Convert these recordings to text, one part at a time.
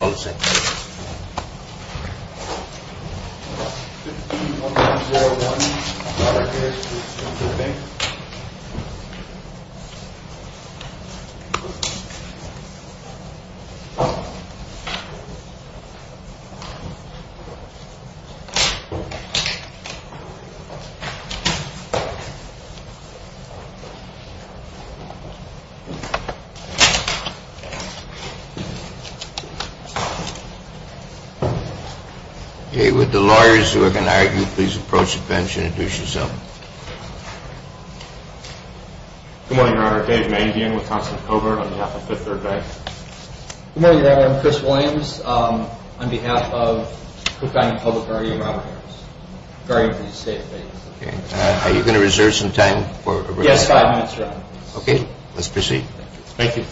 Oh second With the lawyers who are going to argue, please approach the bench and introduce yourself. Good morning, Your Honor. Dave Mangian with Constant Covert on behalf of Fifth Third Bank. Good morning, Your Honor. I'm Chris Williams on behalf of Cook Island Public Party and Robert Harris. Are you going to reserve some time? Yes, five minutes, Your Honor. Okay, let's proceed. Thank you.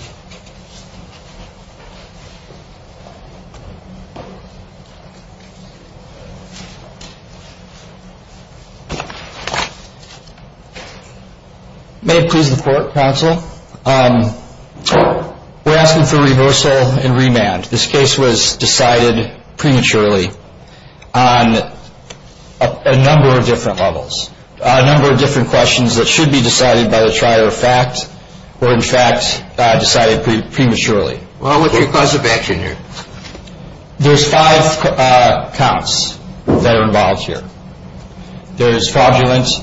May it please the court, counsel. We're asking for reversal and remand. This case was decided prematurely on a number of different levels, a number of different questions that should be decided by the trier of fact or, in fact, decided prematurely. Well, what's your cause of action here? There's five counts that are involved here. There's fraudulence.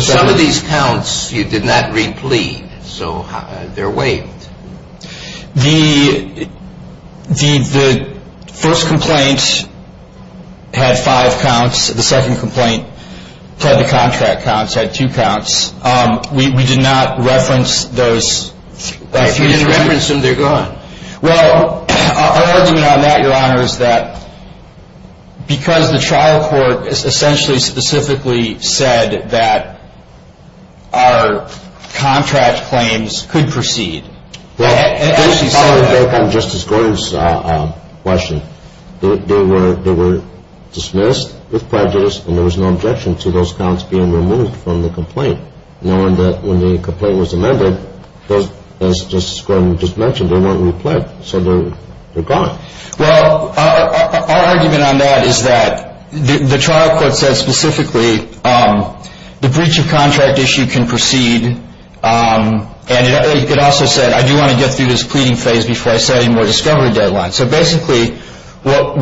Some of these counts you did not replete, so they're waived. The first complaint had five counts. The second complaint had the contract counts, had two counts. We did not reference those. If you didn't reference them, they're gone. Well, our argument on that, Your Honor, is that because the trial court essentially specifically said that our contract claims could proceed. Based on Justice Gordon's question, they were dismissed with prejudice and there was no objection to those counts being removed from the complaint, knowing that when the complaint was amended, as Justice Gordon just mentioned, they weren't replete, so they're gone. Well, our argument on that is that the trial court said specifically the breach of contract issue can proceed and it also said I do want to get through this pleading phase before I set any more discovery deadlines. So basically what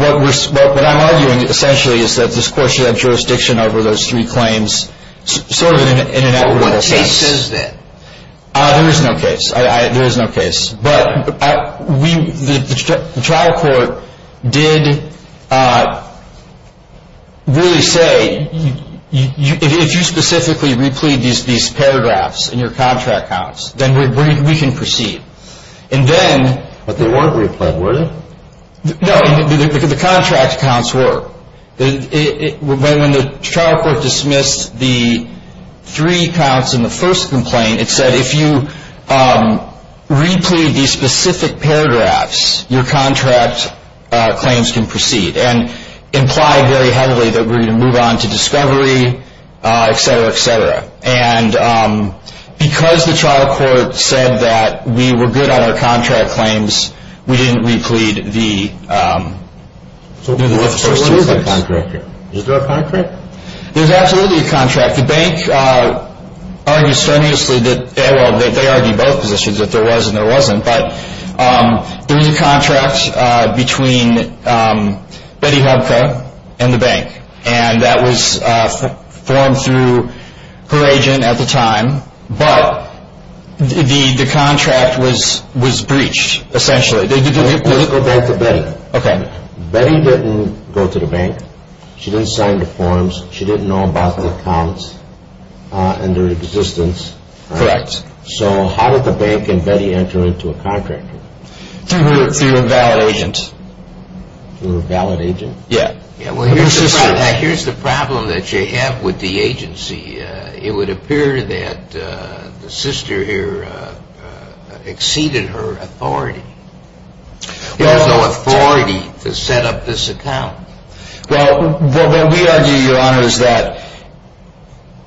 I'm arguing essentially is that this court should have jurisdiction over those three claims sort of in an equitable sense. Well, what case is that? There is no case. There is no case. But the trial court did really say if you specifically replete these paragraphs in your contract counts, then we can proceed. But they weren't replete, were they? No. The contract counts were. When the trial court dismissed the three counts in the first complaint, it said if you replete these specific paragraphs, your contract claims can proceed and implied very heavily that we're going to move on to discovery, et cetera, et cetera. And because the trial court said that we were good on our contract claims, we didn't replete the first two claims. So what is a contract? Is there a contract? There's absolutely a contract. The bank argues strenuously that – well, they argue both positions, that there was and there wasn't. But there was a contract between Betty Hobko and the bank and that was formed through her agent at the time. But the contract was breached, essentially. Go back to Betty. Okay. Betty didn't go to the bank. She didn't sign the forms. She didn't know about the accounts and their existence. Correct. So how did the bank and Betty enter into a contract? Through a valid agent. Through a valid agent? Yeah. Well, here's the problem that you have with the agency. It would appear that the sister here exceeded her authority. She had no authority to set up this account. Well, what we argue, Your Honor, is that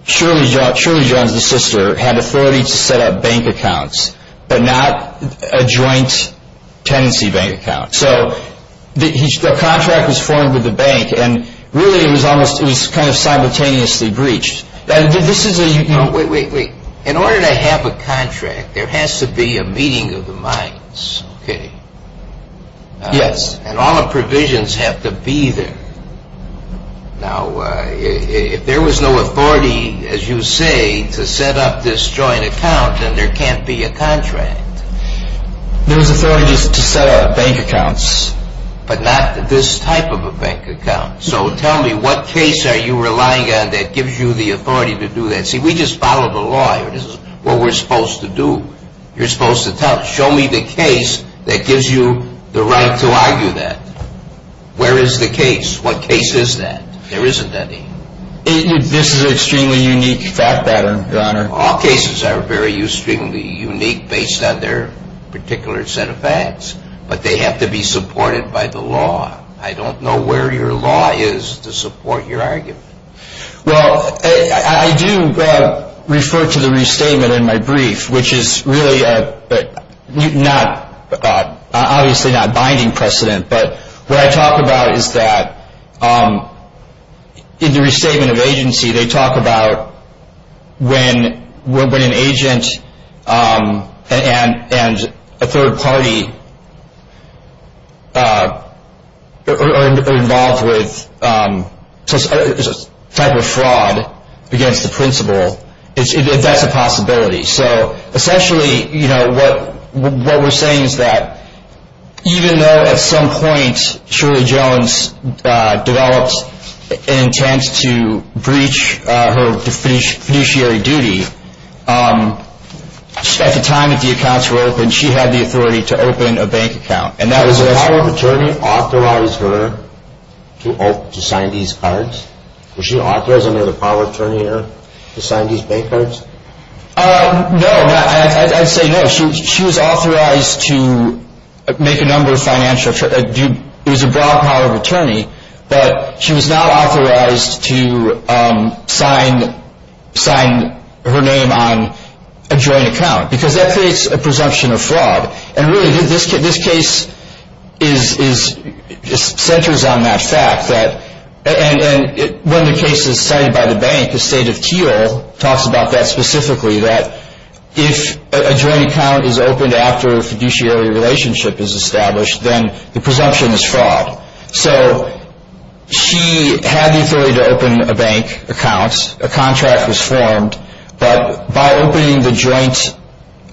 Shirley Jones, the sister, had authority to set up bank accounts but not a joint tenancy bank account. So the contract was formed with the bank and really it was kind of simultaneously breached. Wait, wait, wait. In order to have a contract, there has to be a meeting of the minds, okay? Yes. And all the provisions have to be there. Now, if there was no authority, as you say, to set up this joint account, then there can't be a contract. There was authority to set up bank accounts. But not this type of a bank account. So tell me, what case are you relying on that gives you the authority to do that? See, we just follow the law here. This is what we're supposed to do. You're supposed to show me the case that gives you the right to argue that. Where is the case? What case is that? There isn't any. This is an extremely unique fact pattern, Your Honor. All cases are very extremely unique based on their particular set of facts. But they have to be supported by the law. I don't know where your law is to support your argument. Well, I do refer to the restatement in my brief, which is really obviously not binding precedent. But what I talk about is that in the restatement of agency, they talk about when an agent and a third party are involved with a type of fraud against the principal, if that's a possibility. So essentially what we're saying is that even though at some point Shirley Jones developed an intent to breach her fiduciary duty, at the time that the accounts were opened, she had the authority to open a bank account. Did the power of attorney authorize her to sign these cards? Was she authorized under the power of attorney to sign these bank cards? No. I'd say no. She was authorized to make a number of financial – it was a broad power of attorney, but she was not authorized to sign her name on a joint account because that creates a presumption of fraud. And really, this case centers on that fact. And one of the cases cited by the bank, the State of Keel, talks about that specifically, that if a joint account is opened after a fiduciary relationship is established, then the presumption is fraud. So she had the authority to open a bank account. A contract was formed. But by opening the joint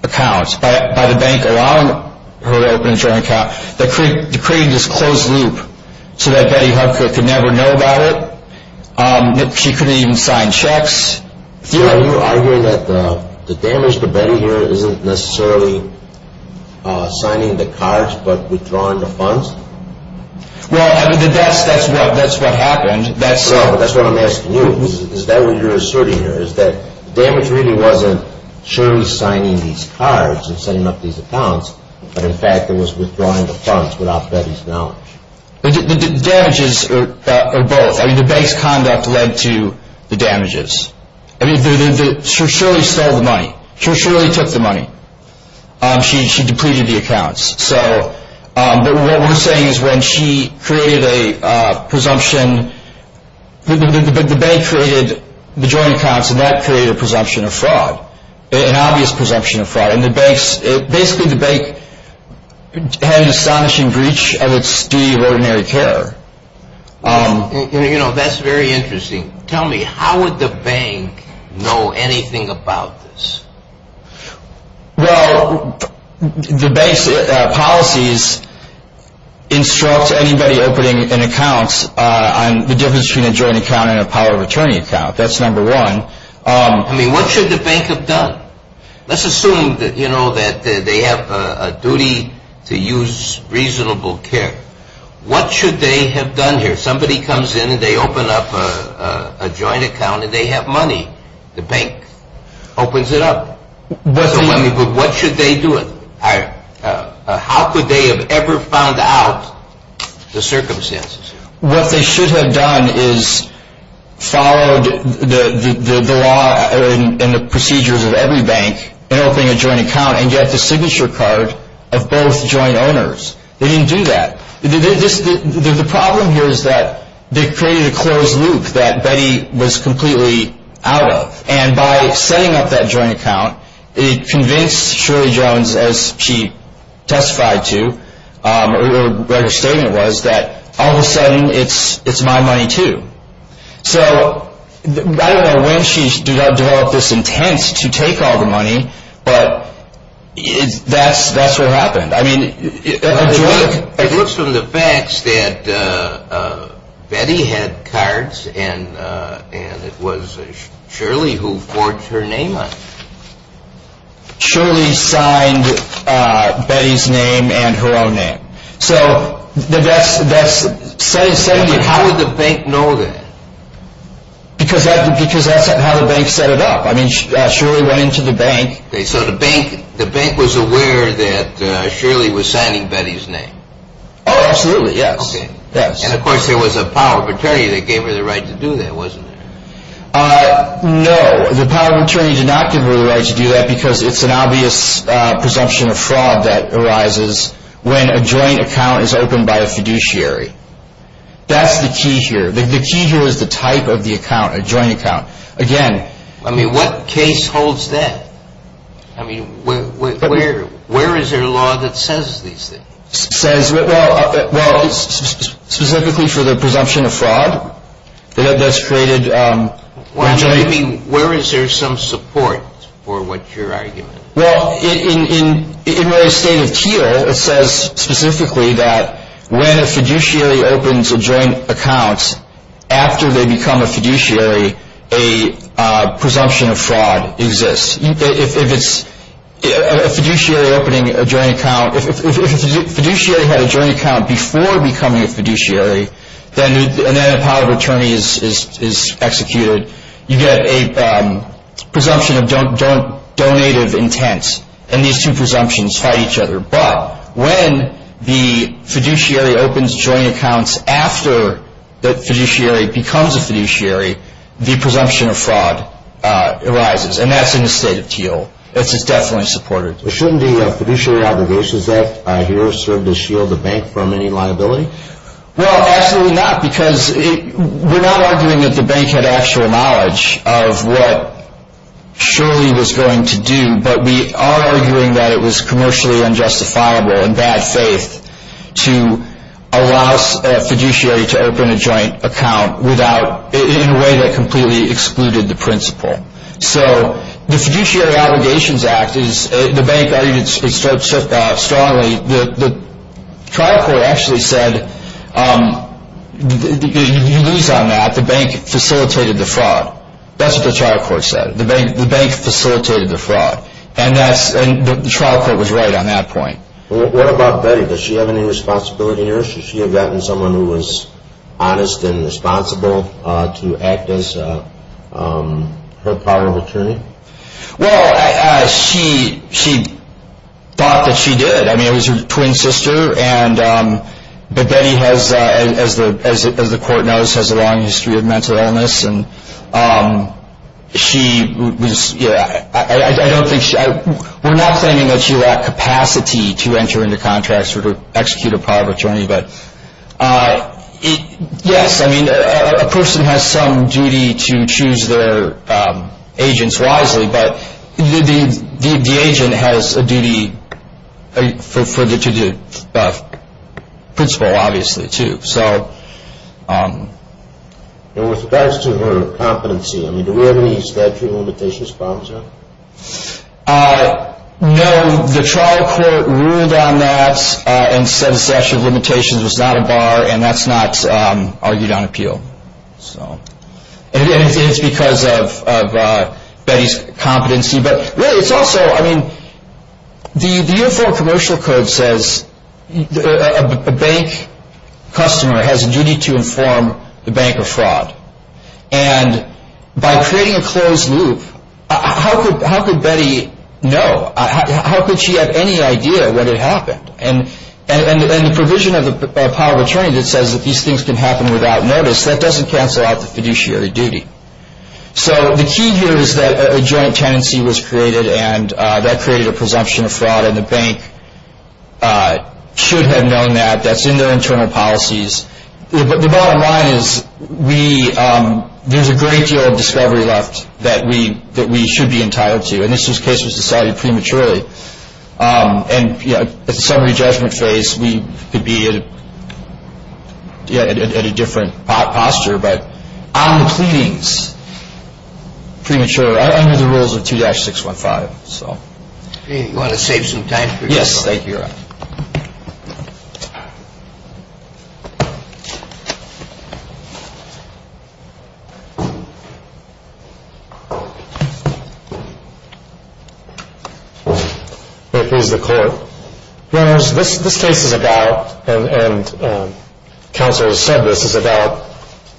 account, by the bank allowing her to open a joint account, they created this closed loop so that Betty Hufford could never know about it. She couldn't even sign checks. Are you arguing that the damage to Betty here isn't necessarily signing the cards but withdrawing the funds? Well, that's what happened. That's what I'm asking you. Is that what you're asserting here? Is that the damage really wasn't Shirley signing these cards and setting up these accounts, but in fact it was withdrawing the funds without Betty's knowledge? The damages are both. I mean, the bank's conduct led to the damages. I mean, Shirley stole the money. Shirley took the money. She depleted the accounts. But what we're saying is when she created a presumption, the bank created the joint accounts and that created a presumption of fraud, an obvious presumption of fraud. And basically the bank had an astonishing breach of its duty of ordinary care. You know, that's very interesting. Tell me, how would the bank know anything about this? Well, the bank's policies instruct anybody opening an account on the difference between a joint account and a power of attorney account. That's number one. I mean, what should the bank have done? Let's assume, you know, that they have a duty to use reasonable care. What should they have done here? Somebody comes in and they open up a joint account and they have money. The bank opens it up. But what should they do? How could they have ever found out the circumstances? What they should have done is followed the law and the procedures of every bank in opening a joint account and get the signature card of both joint owners. They didn't do that. The problem here is that they created a closed loop that Betty was completely out of. And by setting up that joint account, it convinced Shirley Jones, as she testified to, or what her statement was, that all of a sudden it's my money too. So I don't know when she developed this intent to take all the money, but that's what happened. It looks from the facts that Betty had cards and it was Shirley who forged her name on them. Shirley signed Betty's name and her own name. How would the bank know that? Because that's how the bank set it up. I mean, Shirley went into the bank. So the bank was aware that Shirley was signing Betty's name? Oh, absolutely, yes. And, of course, there was a power of attorney that gave her the right to do that, wasn't there? No, the power of attorney did not give her the right to do that because it's an obvious presumption of fraud that arises when a joint account is opened by a fiduciary. That's the key here. The key here is the type of the account, a joint account. I mean, what case holds that? I mean, where is there a law that says these things? Well, specifically for the presumption of fraud that's created. Where is there some support for what your argument is? Well, in Ray's statement here, it says specifically that when a fiduciary opens a joint account, after they become a fiduciary, a presumption of fraud exists. If it's a fiduciary opening a joint account, if a fiduciary had a joint account before becoming a fiduciary, and then a power of attorney is executed, you get a presumption of donative intent, and these two presumptions fight each other. But when the fiduciary opens joint accounts after the fiduciary becomes a fiduciary, the presumption of fraud arises, and that's in the state of Teal. This is definitely supported. Shouldn't the Fiduciary Obligations Act here serve to shield the bank from any liability? Well, absolutely not because we're not arguing that the bank had actual knowledge of what Shirley was going to do, but we are arguing that it was commercially unjustifiable and bad faith to allow a fiduciary to open a joint account in a way that completely excluded the principal. So the Fiduciary Obligations Act, the bank argued it strongly. The trial court actually said, you lose on that, the bank facilitated the fraud. That's what the trial court said. The bank facilitated the fraud, and the trial court was right on that point. What about Betty? Does she have any responsibility here? Should she have gotten someone who was honest and responsible to act as her power of attorney? Well, she thought that she did. I mean, it was her twin sister, but Betty, as the court knows, has a long history of mental illness, and we're not claiming that she lacked capacity to enter into contracts or to execute a power of attorney, but yes, I mean, a person has some duty to choose their agents wisely, but the agent has a duty for the principal, obviously, too. And with regards to her competency, do we have any statute of limitations problems here? No, the trial court ruled on that and said the statute of limitations was not a bar, and that's not argued on appeal. It's because of Betty's competency, but really, it's also, I mean, the Uniform Commercial Code says a bank customer has a duty to inform the bank of fraud, and by creating a closed loop, how could Betty know? How could she have any idea what had happened? And the provision of the power of attorney that says that these things can happen without notice, that doesn't cancel out the fiduciary duty. So the key here is that a joint tenancy was created, and that created a presumption of fraud, and the bank should have known that. That's in their internal policies. But the bottom line is there's a great deal of discovery left that we should be entitled to, and this was a case that was decided prematurely. And at the summary judgment phase, we could be at a different posture, but on the pleadings, prematurely, under the rules of 2-615. So. You want to save some time? Yes, thank you, Your Honor. It is the court. Your Honors, this case is about, and counsel has said this, is about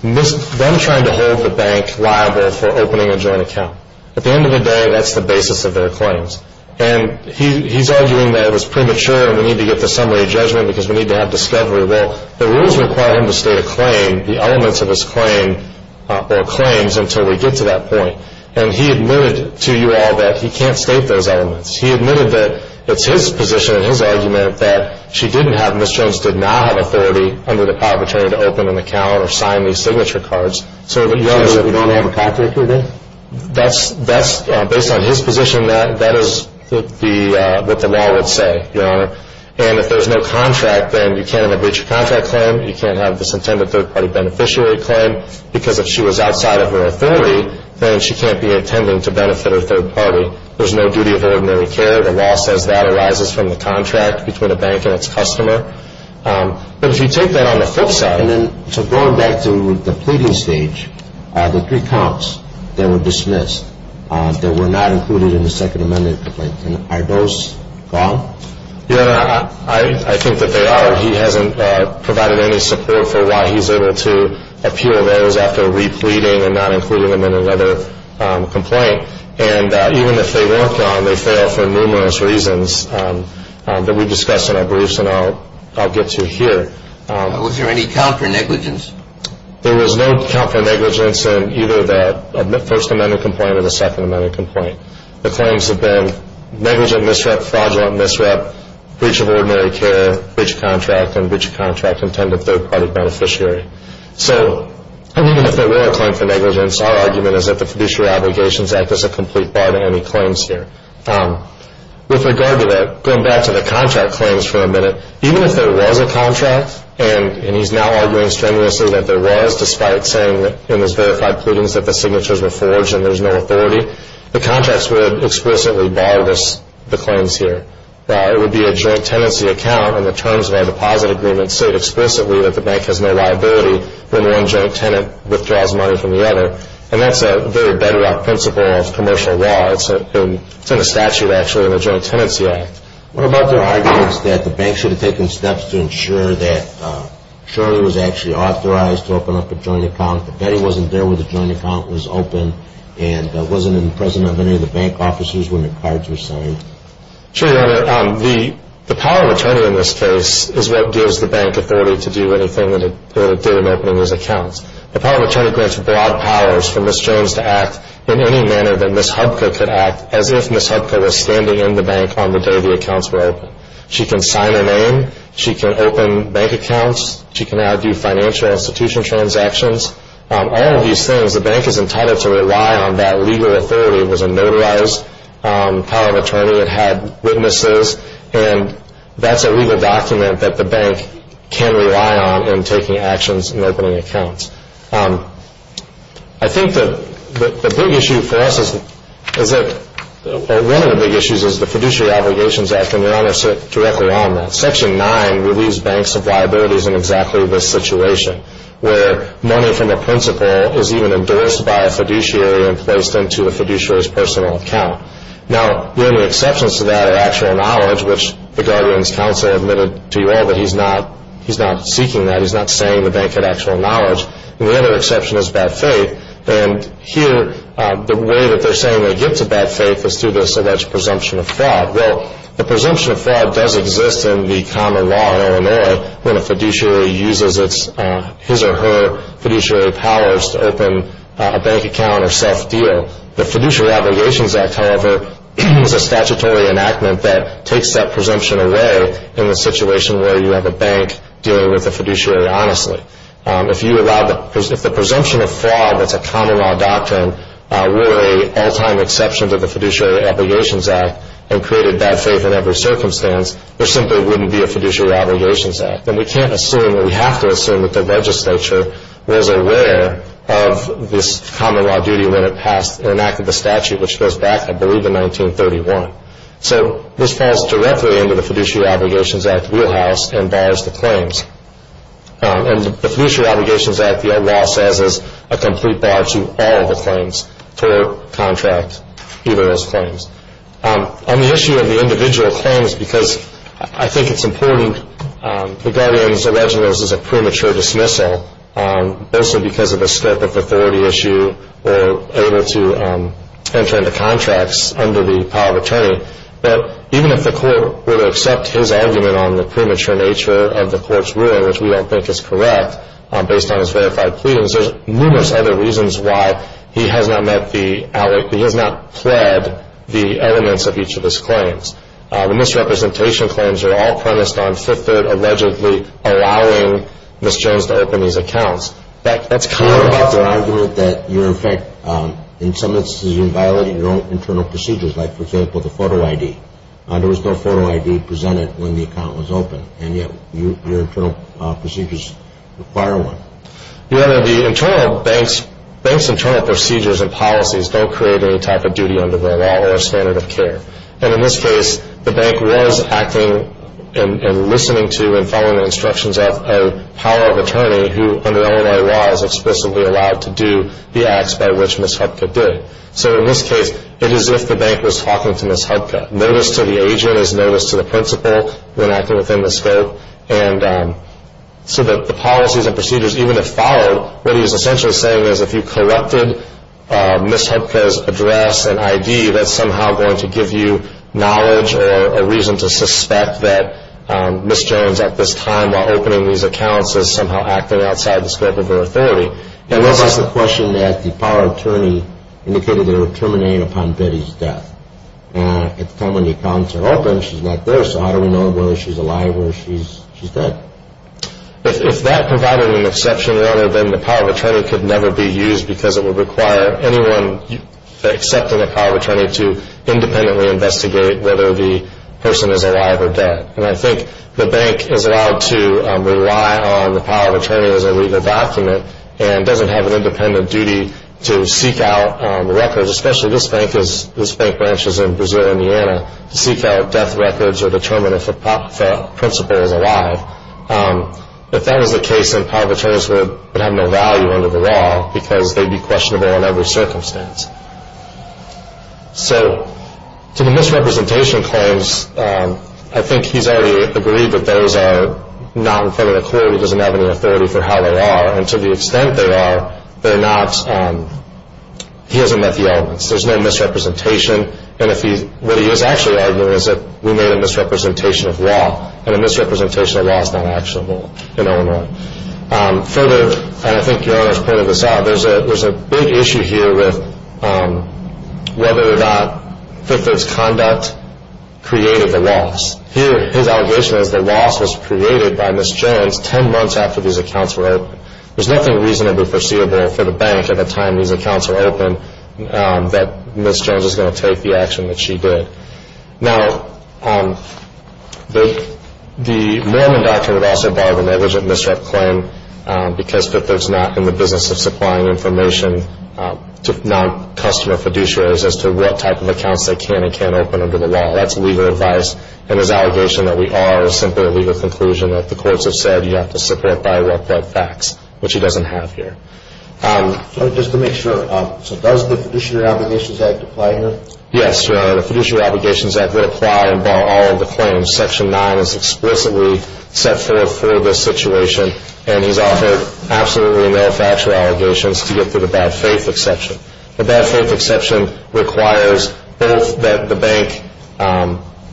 them trying to hold the bank liable for opening a joint account. At the end of the day, that's the basis of their claims. And he's arguing that it was premature and we need to get to summary judgment because we need to have discovery. Well, the rules require him to state a claim, the elements of his claim, or claims, until we get to that point. And he admitted to you all that he can't state those elements. He admitted that it's his position and his argument that she didn't have, Ms. Jones did not have, authority under the power of attorney to open an account or sign these signature cards. So, Your Honor. So we don't have a contract with her? That's, based on his position, that is what the law would say, Your Honor. And if there's no contract, then you can't have a breach of contract claim, you can't have this intended third-party beneficiary claim, because if she was outside of her authority, then she can't be intending to benefit her third party. There's no duty of her ordinary care. The law says that arises from the contract between a bank and its customer. But if you take that on the flip side. And then, so going back to the pleading stage, the three counts that were dismissed, that were not included in the Second Amendment complaint, are those wrong? Your Honor, I think that they are. He hasn't provided any support for why he's able to appeal those after repleting and not including them in another complaint. And even if they were gone, they fail for numerous reasons that we discussed in our briefs, and I'll get to here. Was there any count for negligence? There was no count for negligence in either the First Amendment complaint or the Second Amendment complaint. The claims have been negligent misrep, fraudulent misrep, breach of ordinary care, breach of contract, and breach of contract intended third-party beneficiary. So even if there were a claim for negligence, our argument is that the fiduciary obligations act as a complete bar to any claims here. With regard to that, going back to the contract claims for a minute, even if there was a contract, and he's now arguing strenuously that there was, despite saying in his verified pleadings that the signatures were forged and there's no authority, the contracts would have explicitly barred the claims here. It would be a joint tenancy account, and the terms of our deposit agreement state explicitly that the bank has no liability when one joint tenant withdraws money from the other, and that's a very bedrock principle of commercial law. It's in a statute, actually, in the Joint Tenancy Act. What about the arguments that the bank should have taken steps to ensure that Shirley was actually authorized to open up a joint account, but Betty wasn't there when the joint account was open and wasn't in the presence of any of the bank officers when the cards were signed? Sure, Your Honor. The power of attorney in this case is what gives the bank authority to do anything that it did in opening these accounts. The power of attorney grants broad powers for Ms. Jones to act in any manner that Ms. Hubka could act as if Ms. Hubka was standing in the bank on the day the accounts were opened. She can sign her name. She can open bank accounts. She can now do financial institution transactions. All of these things, the bank is entitled to rely on that legal authority because it was a notarized power of attorney that had witnesses, and that's a legal document that the bank can rely on in taking actions in opening accounts. I think the big issue for us is that one of the big issues is the Fiduciary Obligations Act, and Your Honor sit directly on that. Section 9 relieves banks of liabilities in exactly this situation, where money from a principal is even endorsed by a fiduciary and placed into a fiduciary's personal account. Now, the only exceptions to that are actual knowledge, which the guardian's counsel admitted to you all that he's not seeking that. He's not saying the bank had actual knowledge. And the other exception is bad faith, and here the way that they're saying they get to bad faith is through this alleged presumption of fraud. when a fiduciary uses his or her fiduciary powers to open a bank account or self-deal. The Fiduciary Obligations Act, however, is a statutory enactment that takes that presumption away in the situation where you have a bank dealing with a fiduciary honestly. If the presumption of fraud, that's a common law doctrine, were an all-time exception to the Fiduciary Obligations Act and created bad faith in every circumstance, there simply wouldn't be a Fiduciary Obligations Act. And we can't assume, or we have to assume, that the legislature was aware of this common law duty when it passed an act of the statute, which goes back, I believe, to 1931. So this falls directly into the Fiduciary Obligations Act wheelhouse and bars the claims. And the Fiduciary Obligations Act, the law says, is a complete bar to all the claims for contract, either as claims. On the issue of the individual claims, because I think it's important, the guardian's originals is a premature dismissal, mostly because of the scope of the authority issue or able to enter into contracts under the power of attorney. But even if the court were to accept his argument on the premature nature of the court's ruling, which we don't think is correct based on his verified pleadings, because there's numerous other reasons why he has not met the outlook, he has not pled the elements of each of his claims. The misrepresentation claims are all premised on Fifth Third allegedly allowing Ms. Jones to open these accounts. That's common. You don't make the argument that you're, in fact, in some instances, you're violating your own internal procedures, like, for example, the photo ID. There was no photo ID presented when the account was opened, and yet your internal procedures require one. Your Honor, the bank's internal procedures and policies don't create any type of duty under their law or standard of care. And in this case, the bank was acting and listening to and following the instructions of a power of attorney who, under Illinois law, is explicitly allowed to do the acts by which Ms. Hupka did. So in this case, it is as if the bank was talking to Ms. Hupka. Notice to the agent is notice to the principal when acting within the scope. And so that the policies and procedures, even if followed, what he is essentially saying is if you corrupted Ms. Hupka's address and ID, that's somehow going to give you knowledge or a reason to suspect that Ms. Jones, at this time, while opening these accounts, is somehow acting outside the scope of her authority. And this is the question that the power of attorney indicated it would terminate upon Betty's death. At the time when the accounts are open, she's not there. So how do we know whether she's alive or she's dead? If that provided an exception, Your Honor, then the power of attorney could never be used because it would require anyone accepting a power of attorney to independently investigate whether the person is alive or dead. And I think the bank is allowed to rely on the power of attorney as a legal document and doesn't have an independent duty to seek out records, especially this bank branches in Brazil and Indiana, to seek out death records or determine if a principal is alive. If that was the case, then power of attorneys would have no value under the law because they'd be questionable in every circumstance. So to the misrepresentation claims, I think he's already agreed that those are not in federal court. He doesn't have any authority for how they are. And to the extent they are, he hasn't met the elements. There's no misrepresentation. And what he is actually arguing is that we made a misrepresentation of law, and a misrepresentation of law is not actionable in Illinois. Further, and I think Your Honor has pointed this out, there's a big issue here with whether or not victims' conduct created the loss. Here, his allegation is the loss was created by Ms. Jones 10 months after these accounts were opened. There's nothing reasonably foreseeable for the bank at the time these accounts were opened that Ms. Jones is going to take the action that she did. Now, the Mormon doctrine would also bar the negligent misrep claim because victims are not in the business of supplying information to non-customer fiduciaries as to what type of accounts they can and can't open under the law. That's legal advice. And his allegation that we are is simply a legal conclusion that the courts have said you have to separate by what blood facts, which he doesn't have here. Just to make sure, so does the Fiduciary Obligations Act apply here? Yes, Your Honor. The Fiduciary Obligations Act would apply and bar all of the claims. Section 9 is explicitly set forth for this situation, and he's offered absolutely no factual allegations to get to the bad faith exception. The bad faith exception requires both that the bank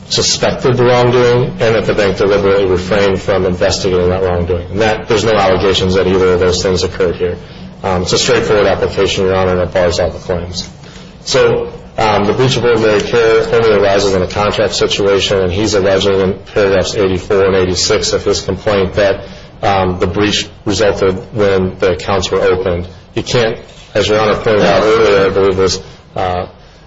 suspected the wrongdoing and that the bank deliberately refrained from investigating that wrongdoing. There's no allegations that either of those things occurred here. It's a straightforward application, Your Honor, that bars all the claims. So the breach of ordinary care only arises in a contract situation, and he's alleging in paragraphs 84 and 86 of this complaint that the breach resulted when the accounts were opened. And you can't, as Your Honor pointed out earlier, I believe this,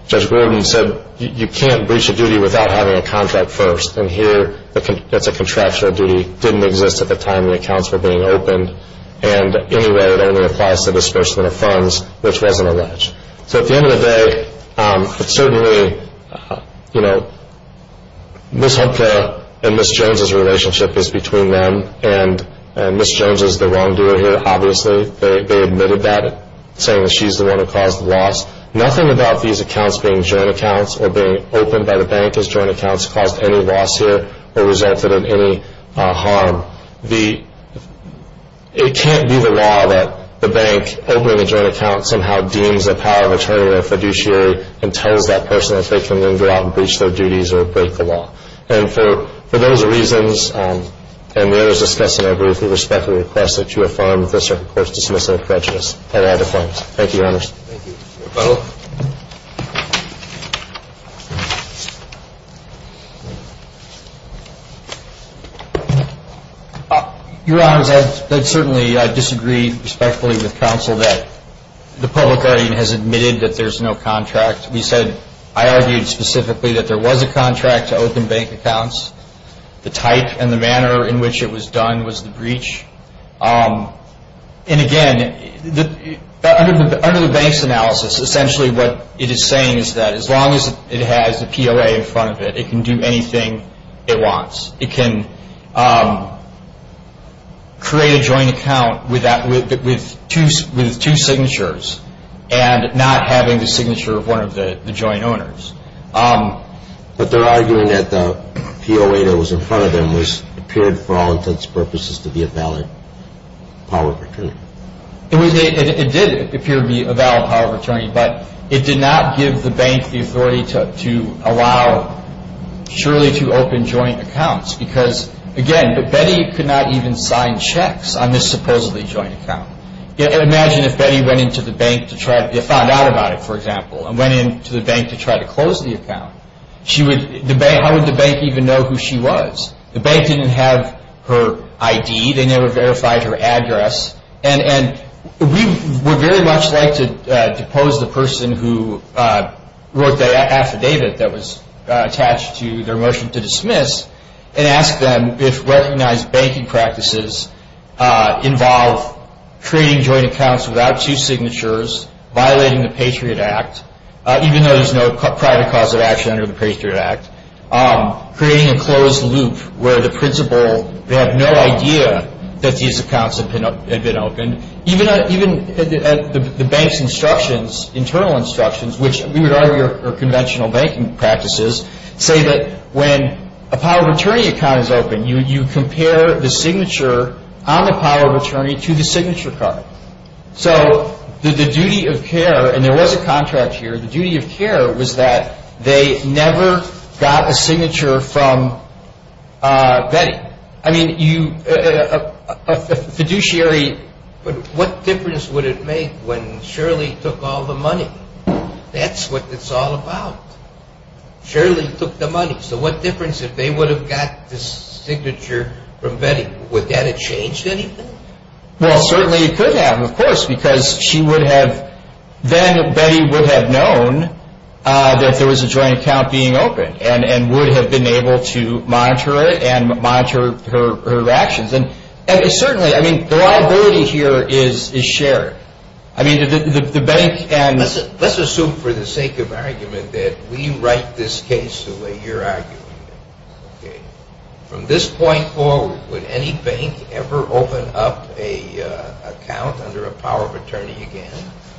Judge Gordon said you can't breach a duty without having a contract first. And here it's a contractual duty. It didn't exist at the time the accounts were being opened. And anyway, it only applies to disbursement of funds, which wasn't alleged. So at the end of the day, it's certainly, you know, Ms. Hopka and Ms. Jones's relationship is between them, and Ms. Jones is the wrongdoer here, obviously. They admitted that, saying that she's the one who caused the loss. Nothing about these accounts being joint accounts or being opened by the bank as joint accounts caused any loss here or resulted in any harm. It can't be the law that the bank opening a joint account somehow deems a power of attorney or a fiduciary and tells that person that they can then go out and breach their duties or break the law. And for those reasons, and the others discussing, I believe we respectfully request that you affirm this or, of course, dismiss it as prejudice. And I decline. Thank you, Your Honors. Thank you. Your Honors, I'd certainly disagree respectfully with counsel that the public guardian has admitted that there's no contract. We said, I argued specifically that there was a contract to open bank accounts. The type and the manner in which it was done was the breach. And, again, under the bank's analysis, essentially what it is saying is that as long as it has the POA in front of it, it can do anything it wants. It can create a joint account with two signatures and not having the signature of one of the joint owners. But they're arguing that the POA that was in front of them appeared for all intents and purposes to be a valid power of attorney. It did appear to be a valid power of attorney, but it did not give the bank the authority to allow Shirley to open joint accounts because, again, Betty could not even sign checks on this supposedly joint account. Imagine if Betty went into the bank to try to find out about it, for example, and went into the bank to try to close the account. How would the bank even know who she was? The bank didn't have her ID. They never verified her address. And we would very much like to depose the person who wrote the affidavit that was attached to their motion to dismiss and ask them if recognized banking practices involve creating joint accounts without two signatures, violating the Patriot Act, even though there's no private cause of action under the Patriot Act, creating a closed loop where the principal, they have no idea that these accounts had been opened. Even the bank's instructions, internal instructions, which we would argue are conventional banking practices, say that when a power of attorney account is open, you compare the signature on the power of attorney to the signature card. So the duty of care, and there was a contract here, the duty of care was that they never got a signature from Betty. I mean, a fiduciary... But what difference would it make when Shirley took all the money? That's what it's all about. Shirley took the money. So what difference, if they would have got the signature from Betty, would that have changed anything? Well, certainly it could have, of course, because she would have, then Betty would have known that there was a joint account being opened and would have been able to monitor it and monitor her actions. And certainly, I mean, the liability here is shared. I mean, the bank and... Let's assume for the sake of argument that we write this case the way you're arguing it. From this point forward, would any bank ever open up an account under a power of attorney again?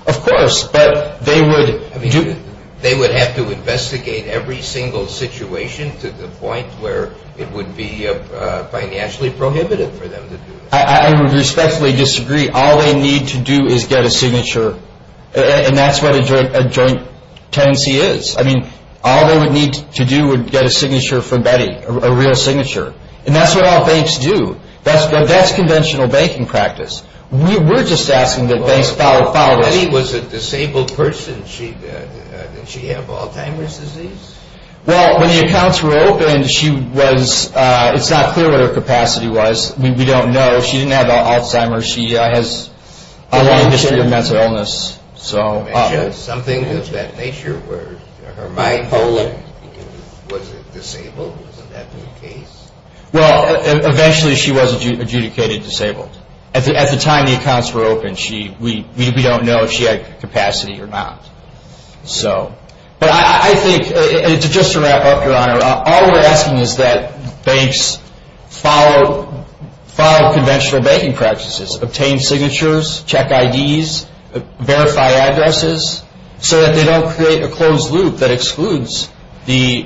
Of course, but they would... They would have to investigate every single situation to the point where it would be financially prohibited for them to do it. I would respectfully disagree. All they need to do is get a signature, and that's what a joint tenancy is. I mean, all they would need to do would get a signature from Betty, a real signature. And that's what all banks do. That's conventional banking practice. We're just asking that banks follow... Betty was a disabled person. Did she have Alzheimer's disease? Well, when the accounts were opened, she was... It's not clear what her capacity was. We don't know. She didn't have Alzheimer's. She has a long history of mental illness. Something of that nature where her mind was disabled? Wasn't that the case? Well, eventually she was adjudicated disabled. At the time the accounts were opened, we don't know if she had capacity or not. So... But I think, just to wrap up, Your Honor, all we're asking is that banks follow conventional banking practices, obtain signatures, check IDs, verify addresses, so that they don't create a closed loop that excludes the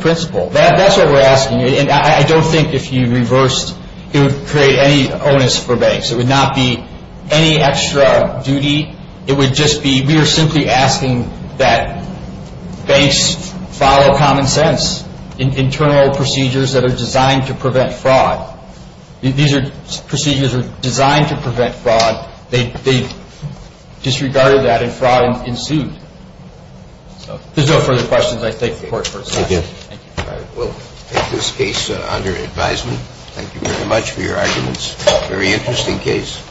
principal. That's what we're asking. And I don't think if you reversed, it would create any onus for banks. It would not be any extra duty. It would just be we are simply asking that banks follow common sense, internal procedures that are designed to prevent fraud. These procedures are designed to prevent fraud. They disregarded that and fraud ensued. If there's no further questions, I thank the Court for its session. Thank you. All right. We'll take this case under advisement. Thank you very much for your arguments. Very interesting case.